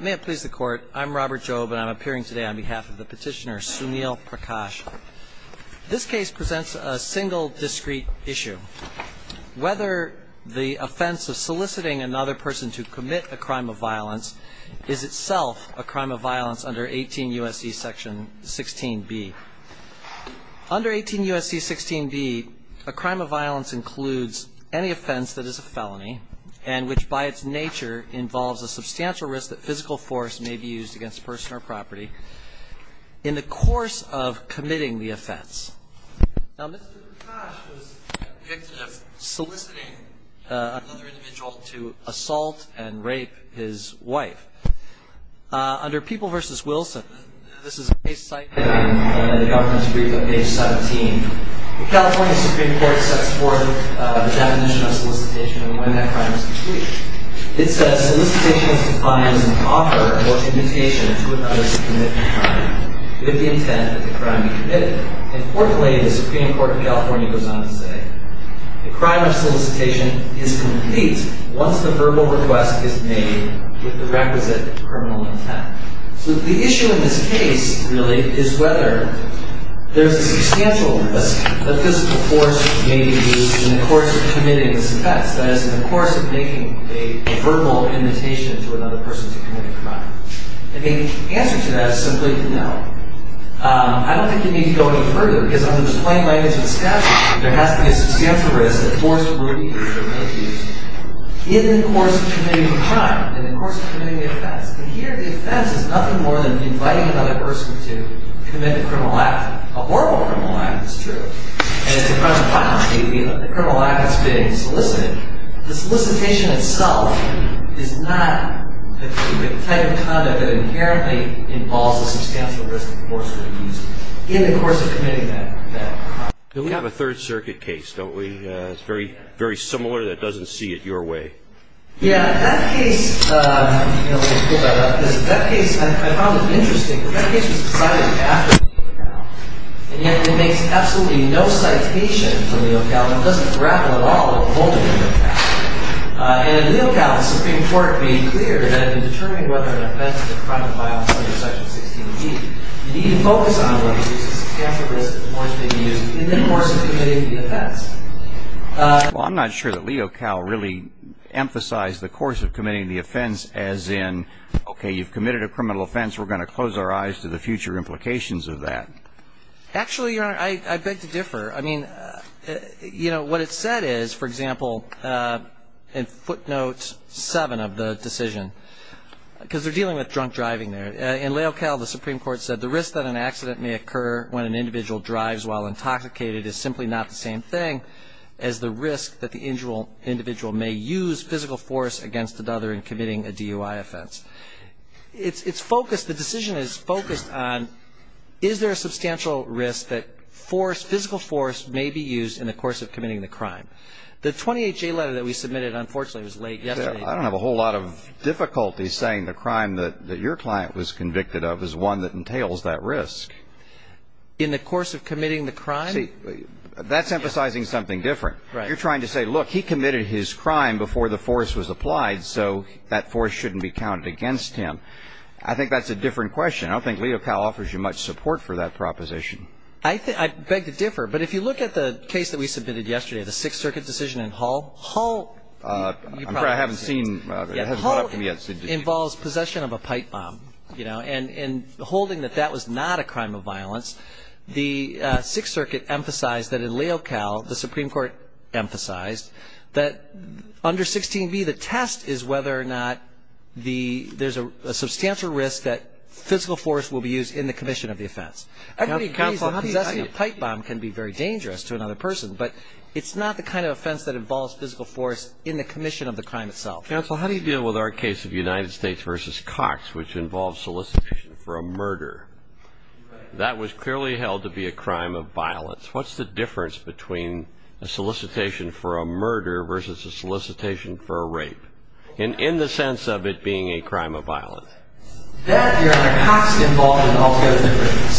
May it please the Court, I'm Robert Jobe and I'm appearing today on behalf of the petitioner Sunil Prakash. This case presents a single, discrete issue. Whether the offense of soliciting another person to commit a crime of violence is itself a crime of violence under 18 U.S.C. section 16b. Under 18 U.S.C. 16b, a crime of violence includes any offense that is a felony and which by its nature involves a substantial risk that physical force may be used against a person or property in the course of committing the offense. Now Mr. Prakash was convicted of soliciting another individual to assault and rape his wife. Under People v. Wilson, this is a case cited in the Governor's Brief on page 17. The California Supreme Court sets forth the definition of solicitation and when that crime is complete. It says solicitation is defined as an offer or commutation to another to commit a crime with the intent that the crime be committed. Importantly, the Supreme Court of California goes on to say the crime of solicitation is complete once the verbal request is made with the requisite criminal intent. So the issue in this case really is whether there is a substantial risk that physical force may be used in the course of committing this offense. That is in the course of making a verbal invitation to another person to commit a crime. And the answer to that is simply no. I don't think you need to go any further because under the plain language of the statute there has to be a substantial risk that force will be used or may be used in the course of committing a crime, in the course of committing the offense. And here the offense is nothing more than inviting another person to commit a criminal act. A verbal criminal act is true. And it's a crime of violent behavior. The criminal act is being solicited. The solicitation itself is not the type of conduct that inherently involves a substantial risk of force being used in the course of committing that crime. We have a Third Circuit case, don't we? It's very similar that doesn't see it your way. Yeah, that case, you know, let me pull that up. That case, I found it interesting. That case was decided after Leo Cal. And yet it makes absolutely no citation for Leo Cal. It doesn't grapple at all with the holding of Leo Cal. And Leo Cal, the Supreme Court made clear that in determining whether an offense is a crime of violence under Section 16G, you need to focus on whether there is a substantial risk of force being used in the course of committing the offense. Well, I'm not sure that Leo Cal really emphasized the course of committing the offense as in, okay, you've committed a criminal offense. We're going to close our eyes to the future implications of that. Actually, Your Honor, I beg to differ. I mean, you know, what it said is, for example, in footnote 7 of the decision, because they're dealing with drunk driving there. In Leo Cal, the Supreme Court said, the risk that an accident may occur when an individual drives while intoxicated is simply not the same thing as the risk that the individual may use physical force against another in committing a DUI offense. It's focused, the decision is focused on is there a substantial risk that force, physical force may be used in the course of committing the crime. The 28-J letter that we submitted, unfortunately, was late yesterday. I don't have a whole lot of difficulty saying the crime that your client was convicted of was one that entails that risk. In the course of committing the crime? See, that's emphasizing something different. You're trying to say, look, he committed his crime before the force was applied, so that force shouldn't be counted against him. I think that's a different question. I don't think Leo Cal offers you much support for that proposition. I beg to differ. But if you look at the case that we submitted yesterday, the Sixth Circuit decision in Hull. Hull involves possession of a pipe bomb. And holding that that was not a crime of violence, the Sixth Circuit emphasized that in Leo Cal, the Supreme Court emphasized that under 16b, the test is whether or not there's a substantial risk that physical force will be used in the commission of the offense. Everybody agrees that possessing a pipe bomb can be very dangerous to another person, but it's not the kind of offense that involves physical force in the commission of the crime itself. Counsel, how do you deal with our case of United States versus Cox, which involves solicitation for a murder? That was clearly held to be a crime of violence. What's the difference between a solicitation for a murder versus a solicitation for a rape, in the sense of it being a crime of violence? That, Your Honor, Cox involved in all those different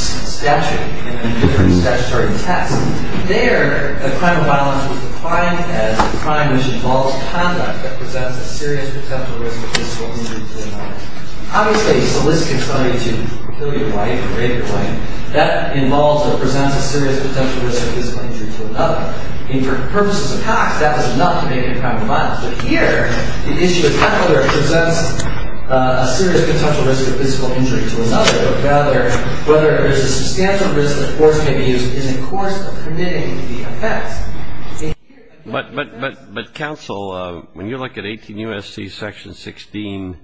statutory tests, there, a crime of violence was defined as a crime which involves conduct that presents a serious potential risk of physical injury to another. Obviously, soliciting somebody to kill your wife or rape your wife, that involves or presents a serious potential risk of physical injury to another. And for purposes of Cox, that was enough to make it a crime of violence. But here, the issue is not whether it presents a serious potential risk of physical injury to another, whether there's a substantial risk that force may be used in the course of committing the offense. But, Counsel, when you look at 18 U.S.C. section 16,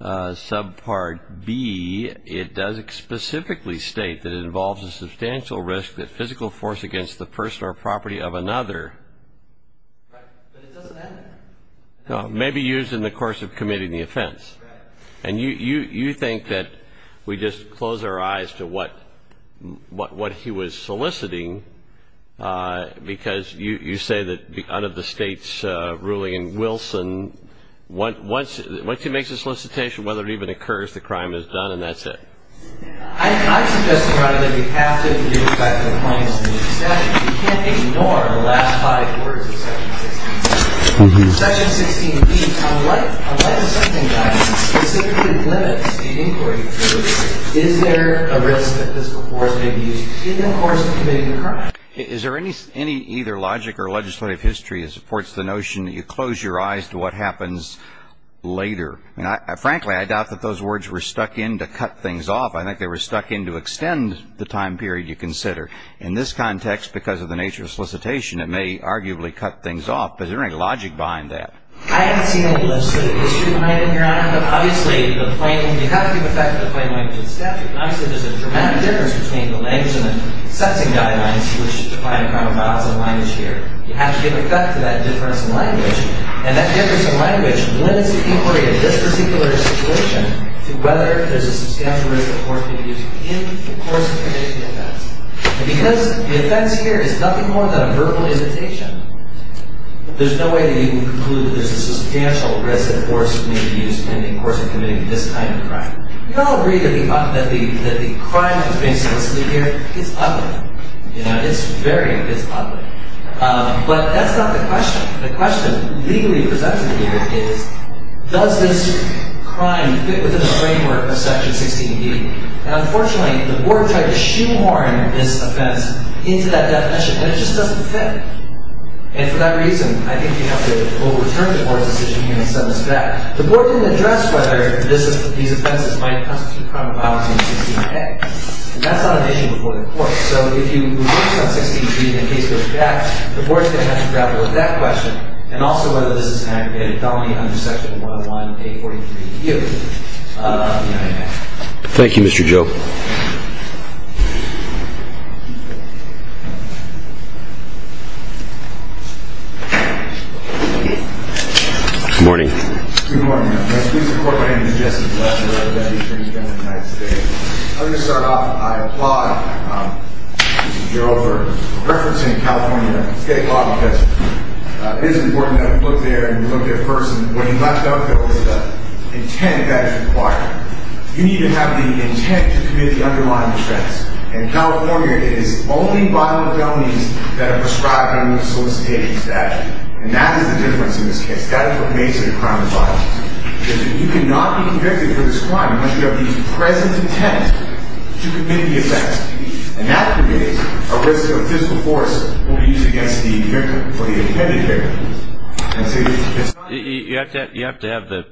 subpart B, it does specifically state that it involves a substantial risk that physical force against the person or property of another may be used in the course of committing the offense. And you think that we just close our eyes to what he was soliciting, because you say that under the State's ruling in Wilson, once he makes a solicitation, whether it even occurs, the crime is done, and that's it. I suggest, Your Honor, that we have to give respect to compliance in the statute. We can't ignore the last five words of section 16. Section 16B, unlike the sentencing guidance, specifically limits the inquiry period. Is there a risk that physical force may be used in the course of committing the crime? Is there any either logic or legislative history that supports the notion that you close your eyes to what happens later? Frankly, I doubt that those words were stuck in to cut things off. I think they were stuck in to extend the time period you consider. In this context, because of the nature of solicitation, it may arguably cut things off. But is there any logic behind that? I haven't seen any legislative history, Your Honor. Obviously, you have to give respect to the plain language in the statute. Obviously, there's a dramatic difference between the language in the sentencing guidance, which is defined in criminal files and language here. You have to give respect to that difference in language. And that difference in language limits the inquiry in this particular situation to whether there's a substantial risk of force being used in the course of committing the offense. And because the offense here is nothing more than a verbal invitation, there's no way that you can conclude that there's a substantial risk of force being used in the course of committing this kind of crime. You don't agree that the crime that's being solicited here is ugly. It's very ugly. But that's not the question. The question legally presented here is, does this crime fit within the framework of Section 16d? Now, unfortunately, the board tried to shoehorn this offense into that definition, and it just doesn't fit. And for that reason, I think we have to overturn the board's decision here and send this back. The board didn't address whether these offenses might constitute criminal policy in 16a. And that's not an issue before the court. So if you reverse on 16d and the case goes back, the board's going to have to grapple with that question and also whether this is an aggravated felony under Section 101A43U of the United States. Thank you, Mr. Joe. Good morning. Good morning, Your Honor. My name is Jesse Fletcher. I'm the Deputy Attorney General of the United States. I'm going to start off. I applaud Mr. Giroir for referencing California state law because it is important that we look there and we look at it first, and when you left out there was the intent that is required. You need to have the intent to commit the underlying offense. In California, it is only violent felonies that are prescribed under the solicitation statute. And that is the difference in this case. That is what makes it a crime of violence. You cannot be convicted for this crime unless you have the present intent to commit the offense. And that creates a risk of physical force will be used against the victim or the intended victim. You have to have the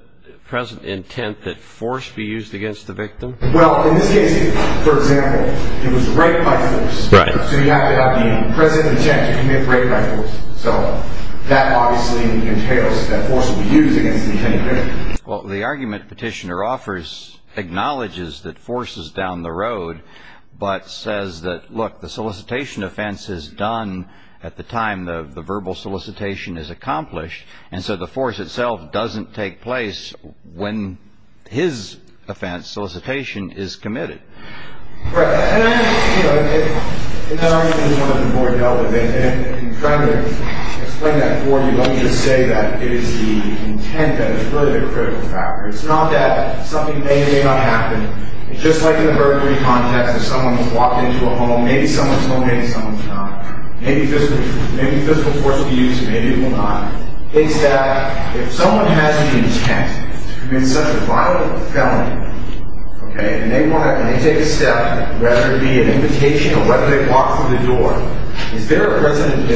present intent that force be used against the victim? Well, in this case, for example, it was raped by force. Right. So you have to have the present intent to commit rape by force. So that obviously entails that force will be used against the intended victim. Well, the argument Petitioner offers acknowledges that force is down the road, but says that, look, the solicitation offense is done at the time the verbal solicitation is accomplished, and so the force itself doesn't take place when his offense, solicitation, is committed. Right. And that argument is one that the board dealt with. And in trying to explain that for you, let me just say that it is the intent that is really the critical factor. It's not that something may or may not happen. It's just like in the verdict-free context. If someone has walked into a home, maybe someone's home, maybe someone's not. Maybe physical force will be used, maybe it will not. It's that if someone has the intent to commit such a violent felony, and they want to take a step, whether it be an invitation or whether they walk through the door, is there a present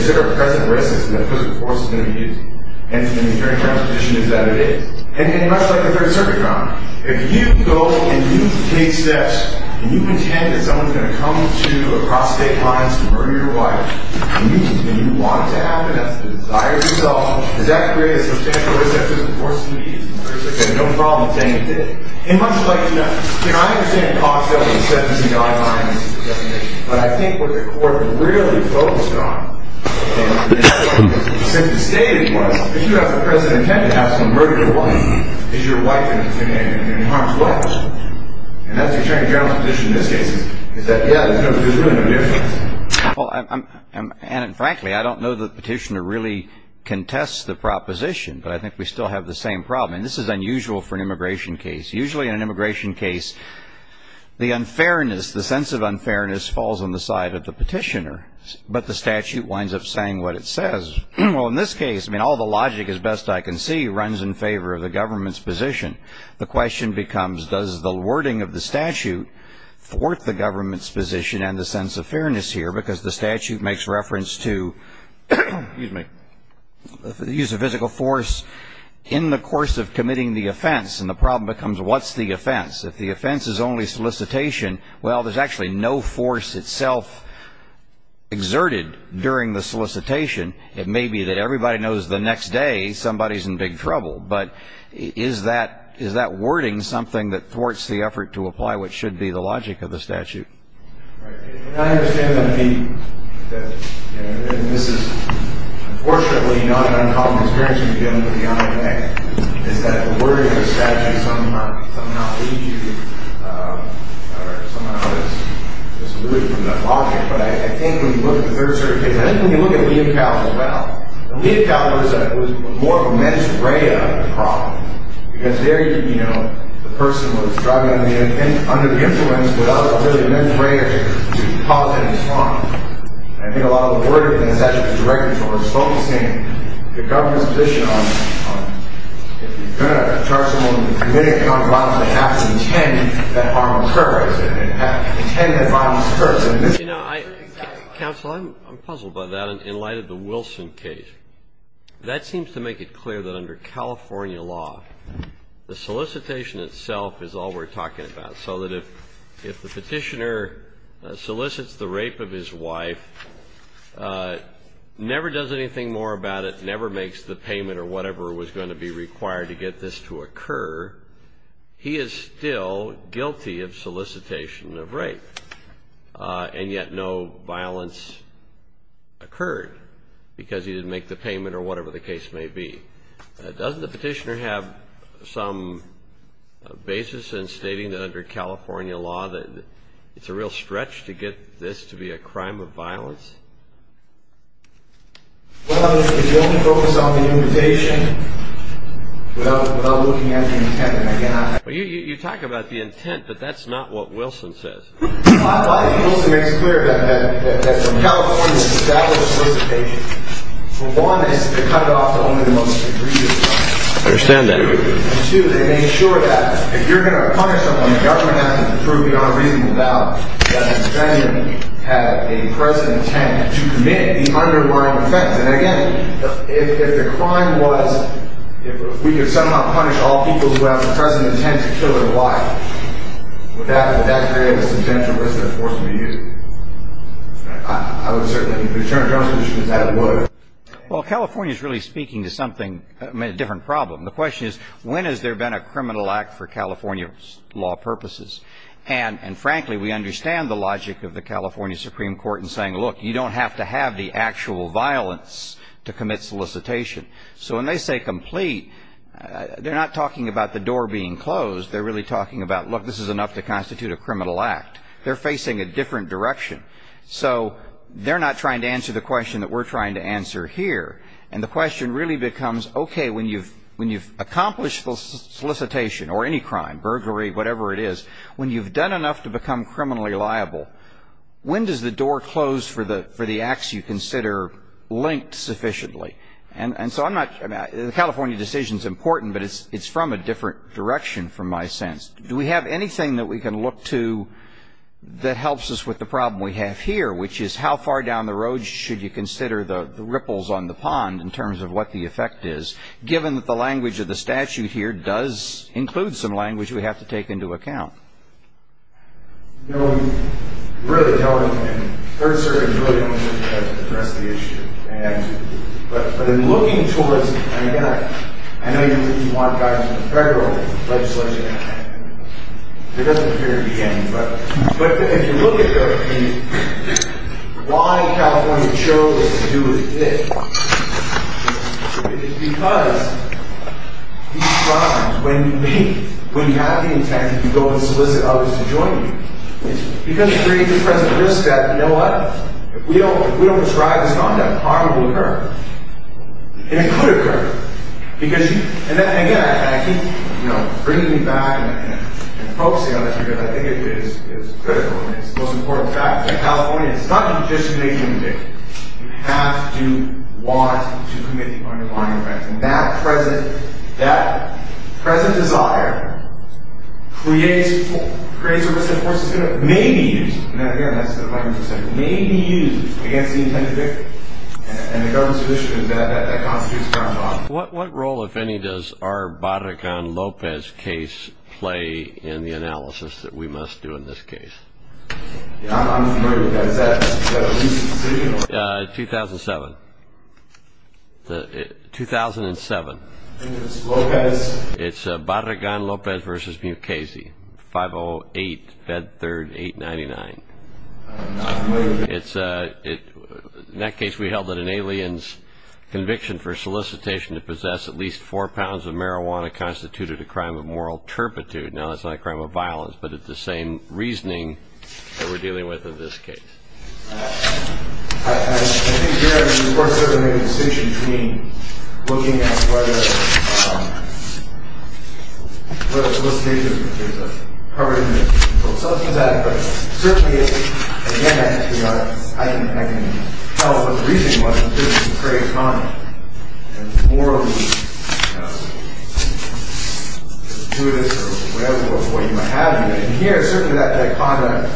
risk that physical force is going to be used? And the attorney general's position is that it is. And much like the Third Circuit comment, if you go and you take steps, and you intend that someone's going to come to you across state lines to murder your wife, and you want it to happen, that's the desire of yourself, does that create a substantial risk that physical force will be used? There's no problem with saying it did. And much like, you know, I understand the cost of the sentencing guidelines definition, but I think what the court really focused on, since it stated it was, if you have the present intent to have someone murder your wife, is your wife going to be in harm's way? And that's the attorney general's position in this case, is that, yeah, there's really no difference. Well, and frankly, I don't know that the petitioner really contests the proposition, but I think we still have the same problem. And this is unusual for an immigration case. Usually in an immigration case, the unfairness, the sense of unfairness, falls on the side of the petitioner. But the statute winds up saying what it says. Well, in this case, I mean, all the logic, as best I can see, runs in favor of the government's position. The question becomes, does the wording of the statute thwart the government's position and the sense of fairness here? Because the statute makes reference to, excuse me, the use of physical force in the course of committing the offense. And the problem becomes, what's the offense? If the offense is only solicitation, well, there's actually no force itself exerted during the solicitation. It may be that everybody knows the next day somebody's in big trouble. But is that wording something that thwarts the effort to apply what should be the logic of the statute? And I understand that this is, unfortunately, not an uncommon experience we've given for the honor of an act, is that the wording of the statute somehow leads you, or somehow is disrupted from that logic. But I think when you look at the third-degree case, I think when you look at Leocow as well, Leocow was more of a mens rea problem. Because there, you know, the person was driving under the influence without really mens rea to cause any harm. And I think a lot of the wording of the statute is directed towards focusing the government's position on if you're going to charge someone with committing a crime of violence, they have to intend that harm occurs, intend that violence occurs. You know, counsel, I'm puzzled by that in light of the Wilson case. That seems to make it clear that under California law, the solicitation itself is all we're talking about, so that if the petitioner solicits the rape of his wife, never does anything more about it, never makes the payment or whatever was going to be required to get this to occur, he is still guilty of solicitation of rape. And yet no violence occurred because he didn't make the payment or whatever the case may be. Doesn't the petitioner have some basis in stating that under California law that it's a real stretch to get this to be a crime of violence? Well, if you only focus on the invitation without looking at the intent, then again, I... Well, you talk about the intent, but that's not what Wilson says. I think Wilson makes clear that for California to establish solicitation, for one, they cut it off to only the most egregious crimes. I understand that. And two, they made sure that if you're going to punish someone, the government has to prove beyond reasonable doubt that the defendant had a present intent to commit the underlying offense. And again, if the crime was if we could somehow punish all people who have a present intent to kill their wife, would that create a substantial risk to the force to be used? I would certainly think the Attorney General's position is that it would. Well, California's really speaking to something, a different problem. The question is when has there been a criminal act for California's law purposes? And frankly, we understand the logic of the California Supreme Court in saying, look, you don't have to have the actual violence to commit solicitation. So when they say complete, they're not talking about the door being closed. They're really talking about, look, this is enough to constitute a criminal act. They're facing a different direction. So they're not trying to answer the question that we're trying to answer here. And the question really becomes, okay, when you've accomplished the solicitation or any crime, burglary, whatever it is, when you've done enough to become criminally liable, when does the door close for the acts you consider linked sufficiently? And so I'm not the California decision is important, but it's from a different direction from my sense. Do we have anything that we can look to that helps us with the problem we have here, which is how far down the road should you consider the ripples on the pond in terms of what the effect is, given that the language of the statute here does include some language we have to take into account? No, you really don't. And Third Circuit really doesn't address the issue. But in looking towards it, and again, I know you want guys in the federal legislation. There doesn't appear to be any, but if you look at why California chose to do this, it's because these crimes, when you have the intent, you go and solicit others to join you. It's because you're creating the present risk that, you know what? If we don't prescribe this conduct, harm will occur. And it could occur. And again, I think bringing it back and focusing on it here, I think it is critical, and it's the most important fact that California is not a decision-making unit. You have to want to commit the underlying offense. And that present desire creates a risk that, of course, may be used against the intended victim. And the government's position is that that constitutes a crime of offense. What role, if any, does our Barragan-Lopez case play in the analysis that we must do in this case? I'm familiar with that. Is that a recent decision? 2007. 2007. Lopez. It's Barragan-Lopez v. Mukasey, 508, Fed 3rd 899. In that case, we held that an alien's conviction for solicitation to possess at least four pounds of marijuana constituted a crime of moral turpitude. Now, that's not a crime of violence, but it's the same reasoning that we're dealing with in this case. I think there is, of course, certainly a distinction between looking at whether solicitation is covered in the And here, certainly that conduct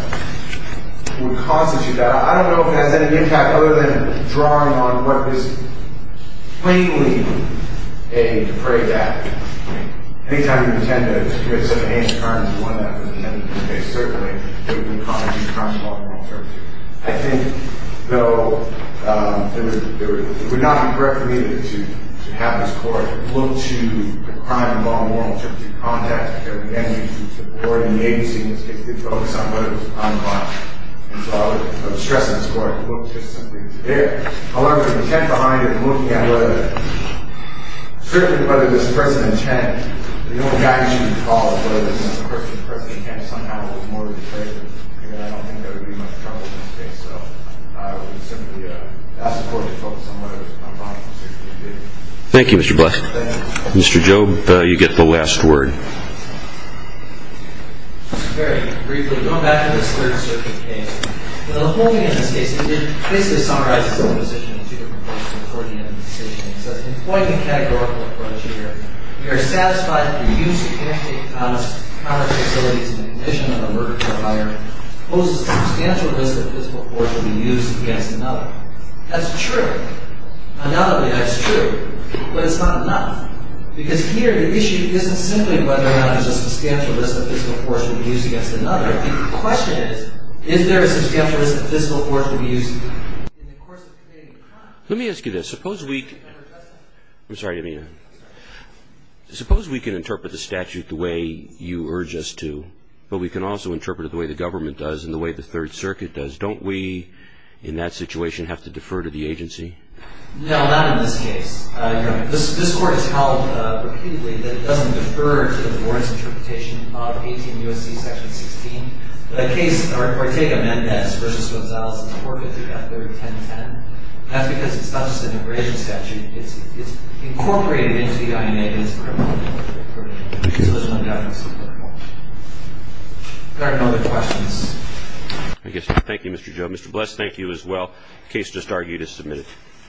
would constitute that. I don't know if it has any impact other than drawing on what is plainly a defrayed act. Any time you pretend to commit some ancient crime as one that was intended for the case, certainly it would be a crime of moral turpitude. I think, though, it would not be correct for me to have this Court look to a crime involving moral turpitude and to contact every entity to support an agency in this case to focus on whether it was a crime of violence. So I would stress on this Court to look just simply to there. However, the intent behind it, looking at whether, certainly whether this person's intent, the only guy you should be following, whether this person's intent somehow was more of a defrayment, I don't think that would be much trouble in this case. So I would simply ask the Court to focus on whether it was a crime of violence in this case. Thank you, Mr. Blesk. Mr. Jobe, you get the last word. Very briefly, going back to this Third Circuit case, the whole thing in this case basically summarizes the position of the two different courts in the Court of Unanimous Decision. It says, in pointing a categorical approach here, we are satisfied that the use of handshake counter facilities in the condition of a murder trial by our own poses a substantial risk that a physical force will be used against another. That's true. Undoubtedly, that's true. But it's not enough. Because here the issue isn't simply whether or not there's a substantial risk that a physical force will be used against another. The question is, is there a substantial risk that a physical force will be used in the course of committing a crime? Let me ask you this. Suppose we can interpret the statute the way you urge us to, but we can also interpret it the way the government does and the way the Third Circuit does. Don't we in that situation have to defer to the agency? No, not in this case. This Court has held repeatedly that it doesn't defer to the Board's interpretation of 18 U.S.C. Section 16. The case, Ortega-Mendez v. Gonzalez in 453.301010, that's because it's not just an immigration statute. It's incorporated into the INA as a criminal record. So there's no doubt in the Supreme Court. If there are no other questions. Thank you, Mr. Joe. Mr. Bless, thank you as well. Case just argued as submitted.